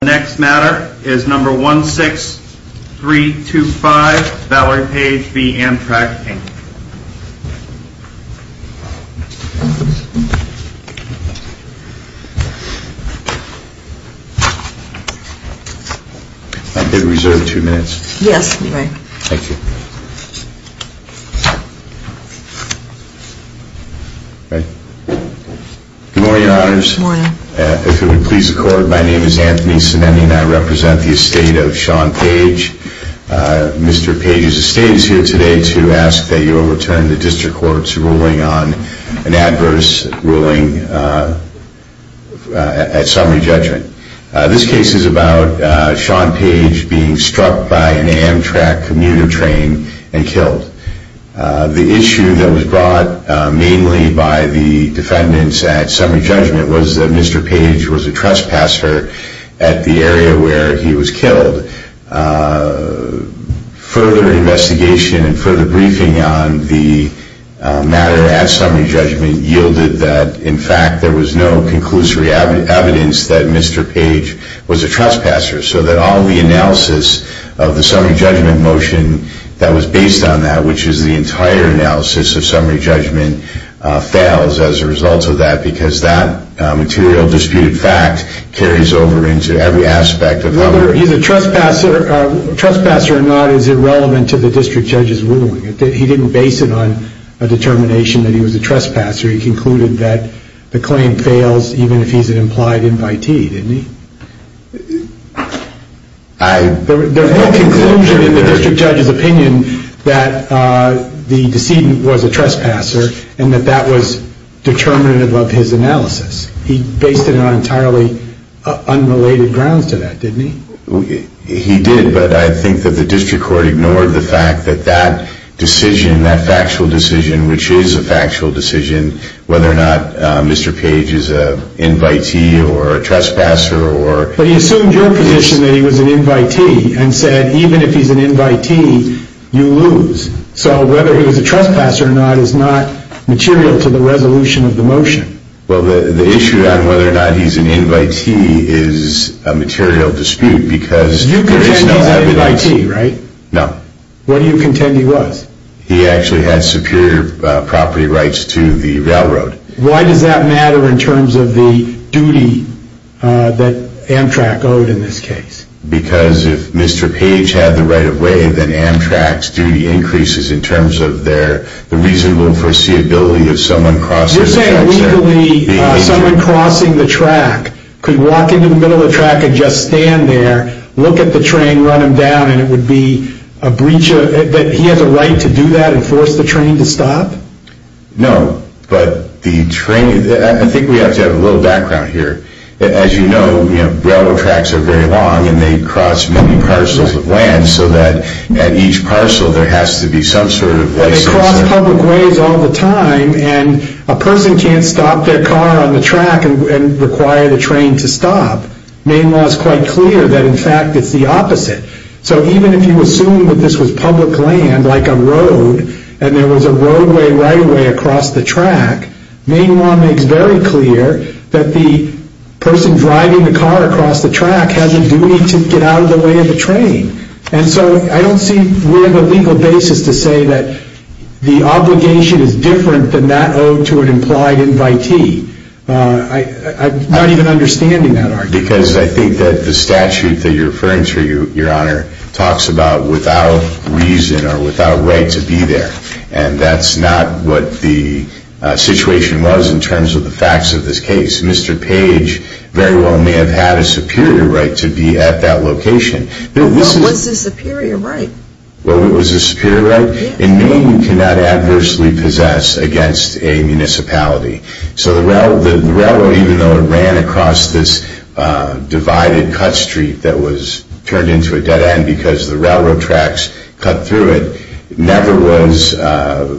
The next matter is No. 16325, Valerie Page v. Amtrak, Inc. I did reserve two minutes. Yes, you may. Thank you. Good morning, Your Honors. Good morning. If it would please the Court, my name is Anthony Sinneni and I represent the estate of Sean Page. Mr. Page's estate is here today to ask that you overturn the District Court's ruling on an adverse ruling at summary judgment. This case is about Sean Page being struck by an Amtrak commuter train and killed. The issue that was brought mainly by the defendants at summary judgment was that Mr. Page was a trespasser at the area where he was killed. Further investigation and further briefing on the matter at summary judgment yielded that, in fact, there was no conclusory evidence that Mr. Page was a trespasser, so that all the analysis of the summary judgment motion that was based on that, which is the entire analysis of summary judgment, fails as a result of that because that material disputed fact carries over into every aspect of the matter. He's a trespasser. A trespasser or not is irrelevant to the District Judge's ruling. He didn't base it on a determination that he was a trespasser. He concluded that the claim fails even if he's an implied invitee, didn't he? There was no conclusion in the District Judge's opinion that the decedent was a trespasser and that that was determinative of his analysis. He based it on entirely unrelated grounds to that, didn't he? He did, but I think that the District Court ignored the fact that that decision, that factual decision, which is a factual decision, whether or not Mr. Page is an invitee or a trespasser or... But he assumed your position that he was an invitee and said even if he's an invitee, you lose. So whether he was a trespasser or not is not material to the resolution of the motion. Well, the issue on whether or not he's an invitee is a material dispute because there is no evidence... You contend he's an invitee, right? No. What do you contend he was? He actually had superior property rights to the railroad. Why does that matter in terms of the duty that Amtrak owed in this case? Because if Mr. Page had the right of way, then Amtrak's duty increases in terms of the reasonable foreseeability of someone crossing... You're saying legally someone crossing the track could walk into the middle of the track and just stand there, look at the train, run him down, and it would be a breach of... that he has a right to do that and force the train to stop? No, but the train... I think we have to have a little background here. As you know, railroad tracks are very long and they cross many parcels of land so that at each parcel there has to be some sort of license... They cross public ways all the time and a person can't stop their car on the track and require the train to stop. Main law is quite clear that in fact it's the opposite. So even if you assume that this was public land, like a road, and there was a roadway right-of-way across the track, main law makes very clear that the person driving the car across the track has a duty to get out of the way of the train. And so I don't see where the legal basis to say that the obligation is different than that owed to an implied invitee. I'm not even understanding that argument. Because I think that the statute that you're referring to, Your Honor, talks about without reason or without right to be there. And that's not what the situation was in terms of the facts of this case. Mr. Page very well may have had a superior right to be at that location. Well, it was a superior right. Well, it was a superior right. In Maine, you cannot adversely possess against a municipality. So the railroad, even though it ran across this divided cut street that was turned into a dead end because the railroad tracks cut through it, never was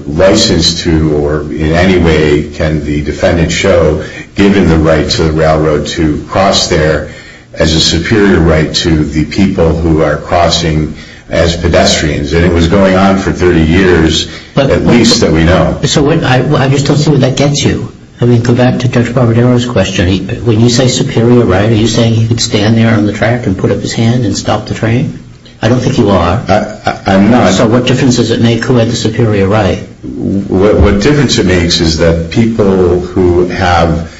licensed to or in any way can the defendant show given the right to the railroad to cross there as a superior right to the people who are crossing as pedestrians. And it was going on for 30 years at least that we know. So I just don't see where that gets you. I mean, go back to Judge Barbadero's question. When you say superior right, are you saying he could stand there on the track and put up his hand and stop the train? I don't think you are. I'm not. So what difference does it make who had the superior right? What difference it makes is that people who have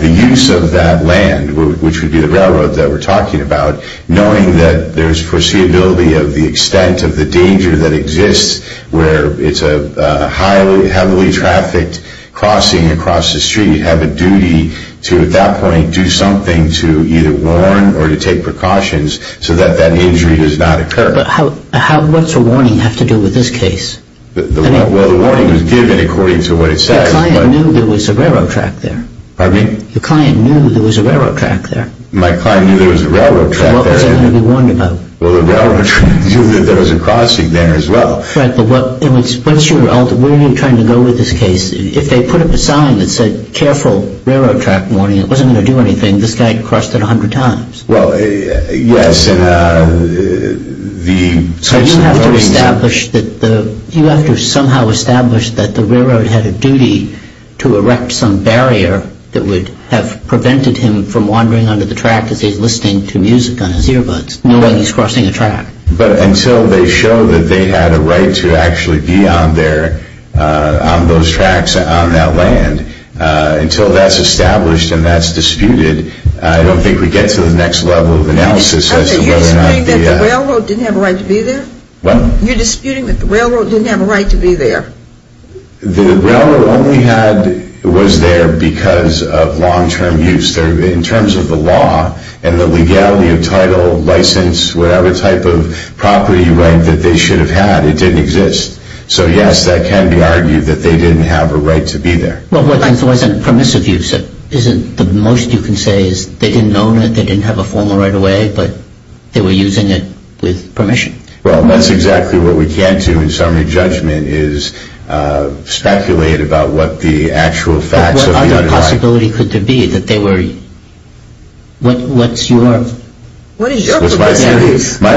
the use of that land, which would be the railroad that we're talking about, knowing that there's foreseeability of the extent of the danger that exists where it's a heavily trafficked crossing across the street, have a duty to at that point do something to either warn or to take precautions so that that injury does not occur. But what's a warning have to do with this case? Well, the warning was given according to what it says. The client knew there was a railroad track there. Pardon me? The client knew there was a railroad track there. My client knew there was a railroad track there. So what was he going to be warned about? Well, the railroad knew that there was a crossing there as well. Fred, where are you trying to go with this case? If they put up a sign that said careful railroad track warning, it wasn't going to do anything. This guy crossed it 100 times. Well, yes. You have to somehow establish that the railroad had a duty to erect some barrier that would have prevented him from wandering onto the track as he's listening to music on his earbuds, knowing he's crossing a track. But until they show that they had a right to actually be on those tracks on that land, until that's established and that's disputed, I don't think we get to the next level of analysis as to whether or not the… Are you disputing that the railroad didn't have a right to be there? What? You're disputing that the railroad didn't have a right to be there? The railroad only was there because of long-term use. In terms of the law and the legality of title, license, whatever type of property right that they should have had, it didn't exist. So, yes, that can be argued that they didn't have a right to be there. Well, what if it wasn't permissive use? Isn't the most you can say is they didn't own it, they didn't have a formal right of way, but they were using it with permission? Well, that's exactly what we can't do in summary judgment is speculate about what the actual facts of the… What other possibility could there be that they were… What's your… What is your… My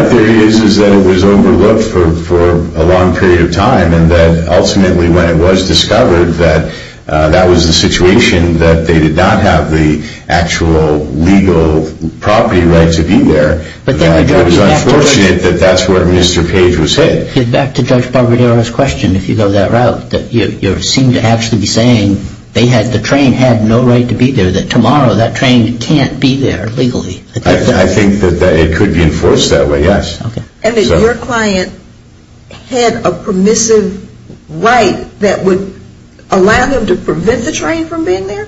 theory is that it was overlooked for a long period of time and that ultimately when it was discovered that that was the situation that they did not have the actual legal property right to be there. It was unfortunate that that's where Mr. Page was hit. Back to Judge Barbadero's question, if you go that route, you seem to actually be saying the train had no right to be there, that tomorrow that train can't be there legally. I think that it could be enforced that way, yes. And that your client had a permissive right that would allow him to prevent the train from being there?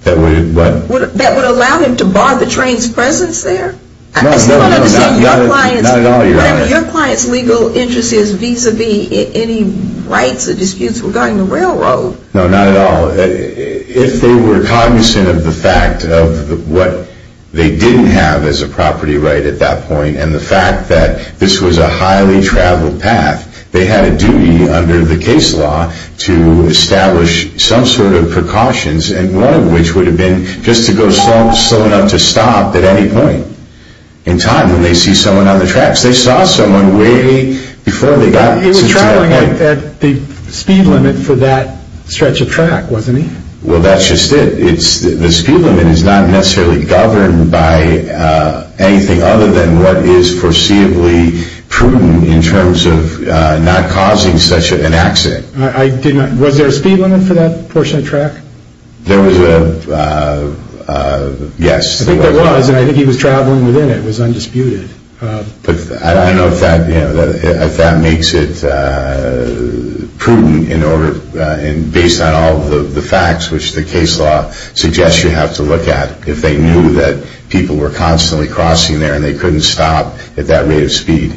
That would what? That would allow him to bar the train's presence there? I still don't understand your client's… Not at all, Your Honor. Your client's legal interest is vis-a-vis any rights or disputes regarding the railroad. No, not at all. If they were cognizant of the fact of what they didn't have as a property right at that point and the fact that this was a highly traveled path, they had a duty under the case law to establish some sort of precautions, one of which would have been just to go slow enough to stop at any point in time when they see someone on the tracks. They saw someone way before they got to that point. He was traveling at the speed limit for that stretch of track, wasn't he? Well, that's just it. The speed limit is not necessarily governed by anything other than what is foreseeably prudent in terms of not causing such an accident. Was there a speed limit for that portion of the track? There was a… yes. I think there was, and I think he was traveling within it. It was undisputed. I don't know if that makes it prudent, based on all of the facts which the case law suggests you have to look at if they knew that people were constantly crossing there and they couldn't stop at that rate of speed.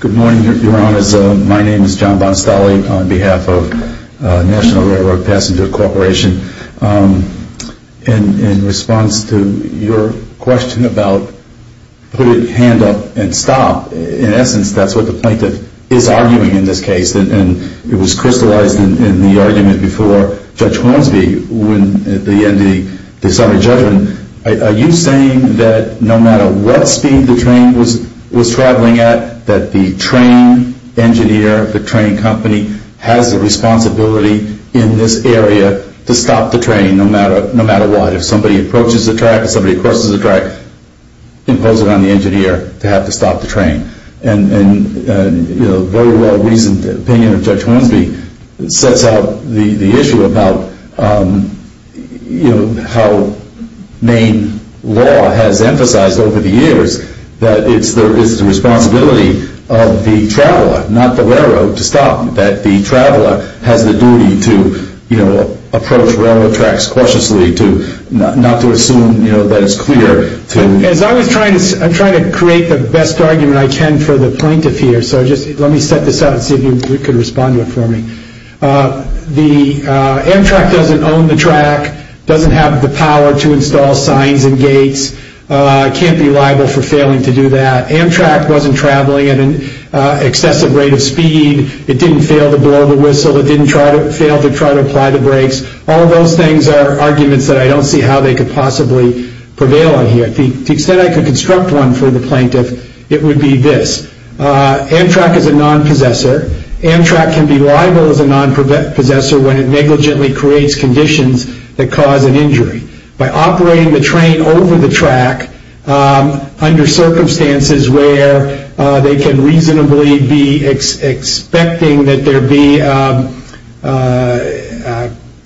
Good morning, Your Honors. My name is John Bonastelli on behalf of National Railroad Passenger Corporation. In response to your question about put a hand up and stop, in essence that's what the plaintiff is arguing in this case, and it was crystallized in the argument before Judge Hornsby at the end of the summary judgment. Are you saying that no matter what speed the train was traveling at, that the train engineer, the train company, has the responsibility in this area to stop the train no matter what? If somebody approaches the track, if somebody crosses the track, impose it on the engineer to have to stop the train. And the very well reasoned opinion of Judge Hornsby sets out the issue about how Maine law has emphasized over the years that it's the responsibility of the traveler, not the railroad, to stop. That the traveler has the duty to approach railroad tracks cautiously, not to assume that it's clear. I'm trying to create the best argument I can for the plaintiff here, so let me set this up and see if you can respond to it for me. Amtrak doesn't own the track, doesn't have the power to install signs and gates, can't be liable for failing to do that. Amtrak wasn't traveling at an excessive rate of speed, it didn't fail to blow the whistle, it didn't fail to try to apply the brakes. All of those things are arguments that I don't see how they could possibly prevail on here. To the extent I could construct one for the plaintiff, it would be this. Amtrak is a non-possessor. Amtrak can be liable as a non-possessor when it negligently creates conditions that cause an injury. By operating the train over the track, under circumstances where they can reasonably be expecting that there be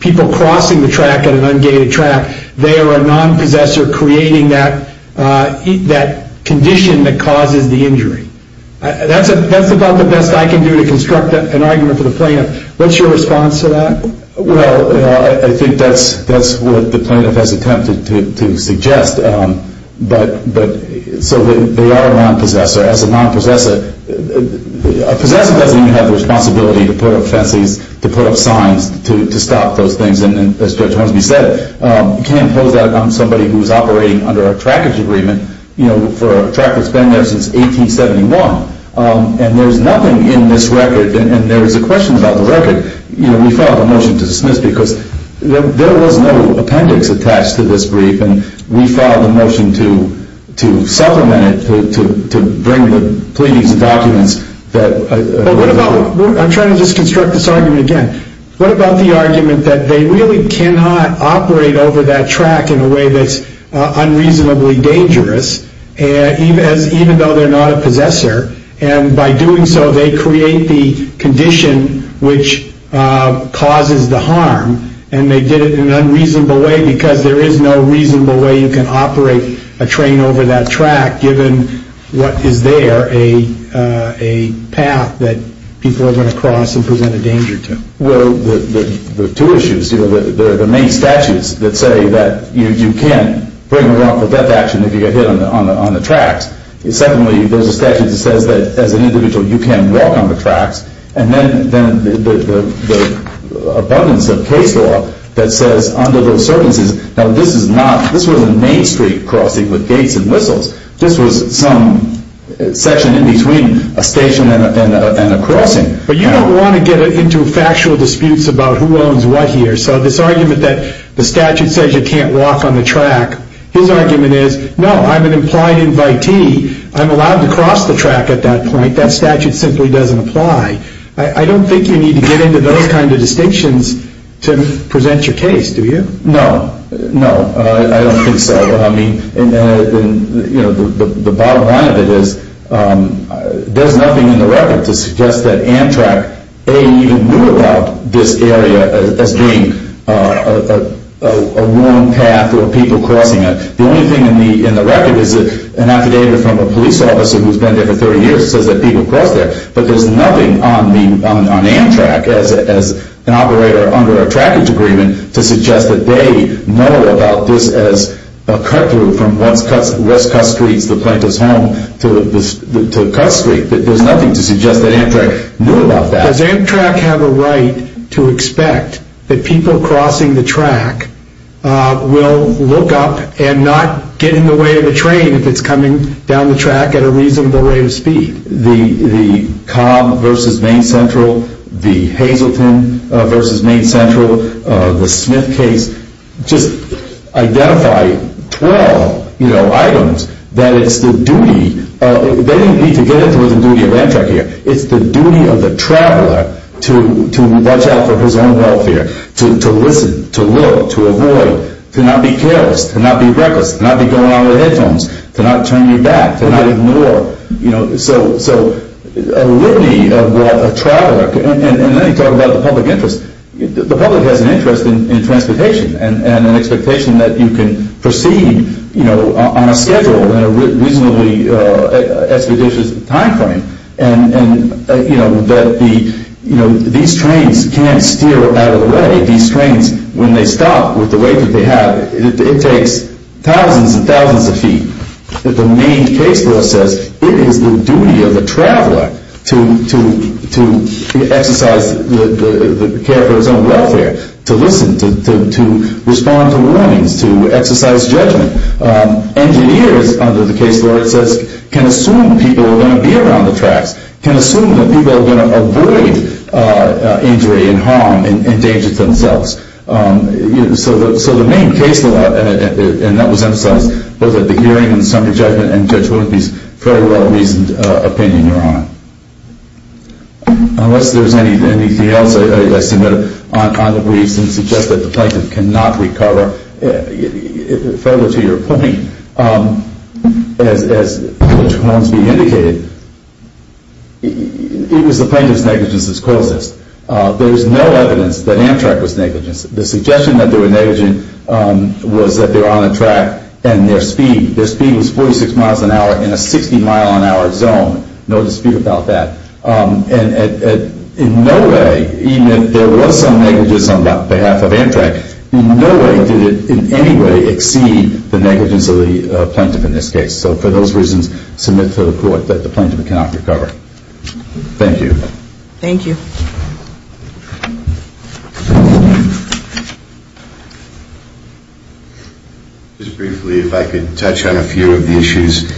people crossing the track at an ungated track, they are a non-possessor creating that condition that causes the injury. That's about the best I can do to construct an argument for the plaintiff. What's your response to that? Well, I think that's what the plaintiff has attempted to suggest. So they are a non-possessor. As a non-possessor, a possessor doesn't even have the responsibility to put up fences, to put up signs, to stop those things. And as Judge Hornsby said, you can't impose that on somebody who's operating under a trackage agreement for a track that's been there since 1871. And there's nothing in this record, and there was a question about the record, we filed a motion to dismiss because there was no appendix attached to this brief and we filed a motion to supplement it, to bring the pleadings and documents. I'm trying to just construct this argument again. What about the argument that they really cannot operate over that track in a way that's unreasonably dangerous, even though they're not a possessor, and by doing so they create the condition which causes the harm, and they did it in an unreasonable way because there is no reasonable way you can operate a train over that track given what is there, a path that people are going to cross and present a danger to. Well, there are two issues. There are the main statutes that say that you can't bring a wrongful death action if you get hit on the tracks. Secondly, there's a statute that says that as an individual you can't walk on the tracks. And then the abundance of case law that says under those circumstances, now this was a main street crossing with gates and whistles. This was some section in between a station and a crossing. But you don't want to get into factual disputes about who owns what here, so this argument that the statute says you can't walk on the track, his argument is, no, I'm an implied invitee. I'm allowed to cross the track at that point. That statute simply doesn't apply. I don't think you need to get into those kind of distinctions to present your case, do you? No, no, I don't think so. The bottom line of it is there's nothing in the record to suggest that Amtrak A, even knew about this area as being a wrong path or people crossing it. The only thing in the record is an affidavit from a police officer who's been there for 30 years and says that people cross there. But there's nothing on Amtrak as an operator under a trackage agreement to suggest that they know about this as a cut-through from West Cutt Street, the plaintiff's home, to Cutt Street. There's nothing to suggest that Amtrak knew about that. Does Amtrak have a right to expect that people crossing the track will look up and not get in the way of the train if it's coming down the track at a reasonable rate of speed? The Cobb v. Main Central, the Hazleton v. Main Central, the Smith case, just identify 12 items that it's the duty of the traveler to watch out for his own welfare, to listen, to look, to avoid, to not be careless, to not be reckless, to not be going around with headphones, to not turn your back, to not ignore. So a litany of what a traveler, and let me talk about the public interest. The public has an interest in transportation and an expectation that you can proceed on a schedule in a reasonably expeditious timeframe, and that these trains can't steer out of the way. These trains, when they stop with the weight that they have, it takes thousands and thousands of feet. The Main case law says it is the duty of the traveler to exercise care for his own welfare, to listen, to respond to warnings, to exercise judgment. Engineers, under the case law, it says, can assume people are going to be around the tracks, can assume that people are going to avoid injury and harm and danger to themselves. So the Main case law, and that was themselves, both at the hearing and the summary judgment and Judge Willoughby's fairly well-reasoned opinion, Your Honor. Unless there's anything else, I submit on the briefs and suggest that the plaintiff cannot recover further to your point, as Judge Hornsby indicated, it was the plaintiff's negligence that caused this. There is no evidence that Amtrak was negligent. The suggestion that they were negligent was that they were on a track and their speed, their speed was 46 miles an hour in a 60 mile an hour zone, no dispute about that. And in no way, even if there was some negligence on behalf of Amtrak, in no way did it in any way exceed the negligence of the plaintiff in this case. So for those reasons, submit to the court that the plaintiff cannot recover. Thank you. Thank you. Just briefly, if I could touch on a few of the issues.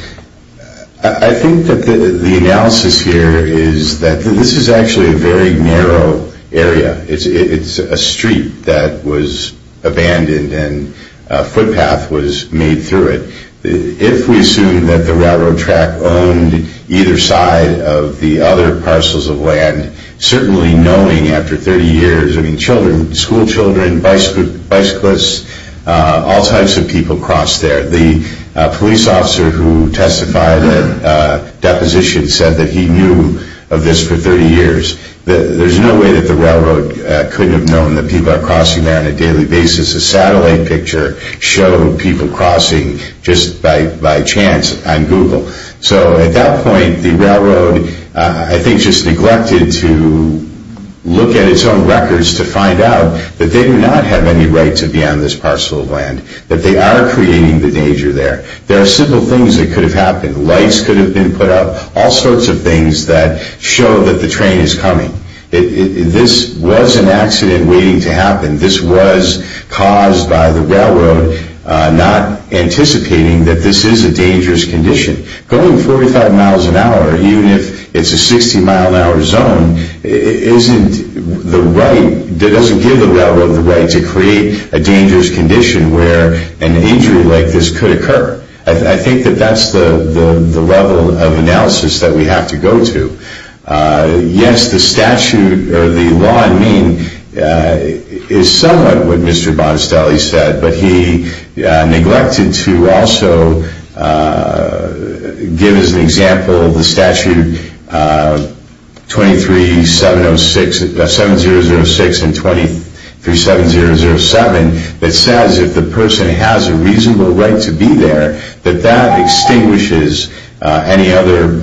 I think that the analysis here is that this is actually a very narrow area. It's a street that was abandoned and a footpath was made through it. If we assume that the railroad track owned either side of the other parcels of land, certainly knowing after 30 years, I mean, children, school children, bicyclists, all types of people crossed there. The police officer who testified at deposition said that he knew of this for 30 years. There's no way that the railroad could have known that people are crossing there on a daily basis. A satellite picture showed people crossing just by chance on Google. So at that point, the railroad, I think, just neglected to look at its own records to find out that they do not have any right to be on this parcel of land, that they are creating the danger there. There are simple things that could have happened. Lights could have been put up, all sorts of things that show that the train is coming. This was an accident waiting to happen. This was caused by the railroad not anticipating that this is a dangerous condition. Going 45 miles an hour, even if it's a 60-mile-an-hour zone, doesn't give the railroad the right to create a dangerous condition where an injury like this could occur. I think that that's the level of analysis that we have to go to. Yes, the statute, or the law, I mean, is somewhat what Mr. Bonestelli said, but he neglected to also give us an example of the statute 7-006 and 23-7007 that says if the person has a reasonable right to be there, that that extinguishes any other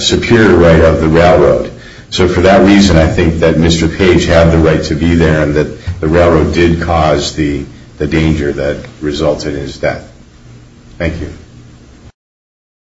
superior right of the railroad. So for that reason, I think that Mr. Page had the right to be there and that the railroad did cause the danger that resulted in his death. Thank you.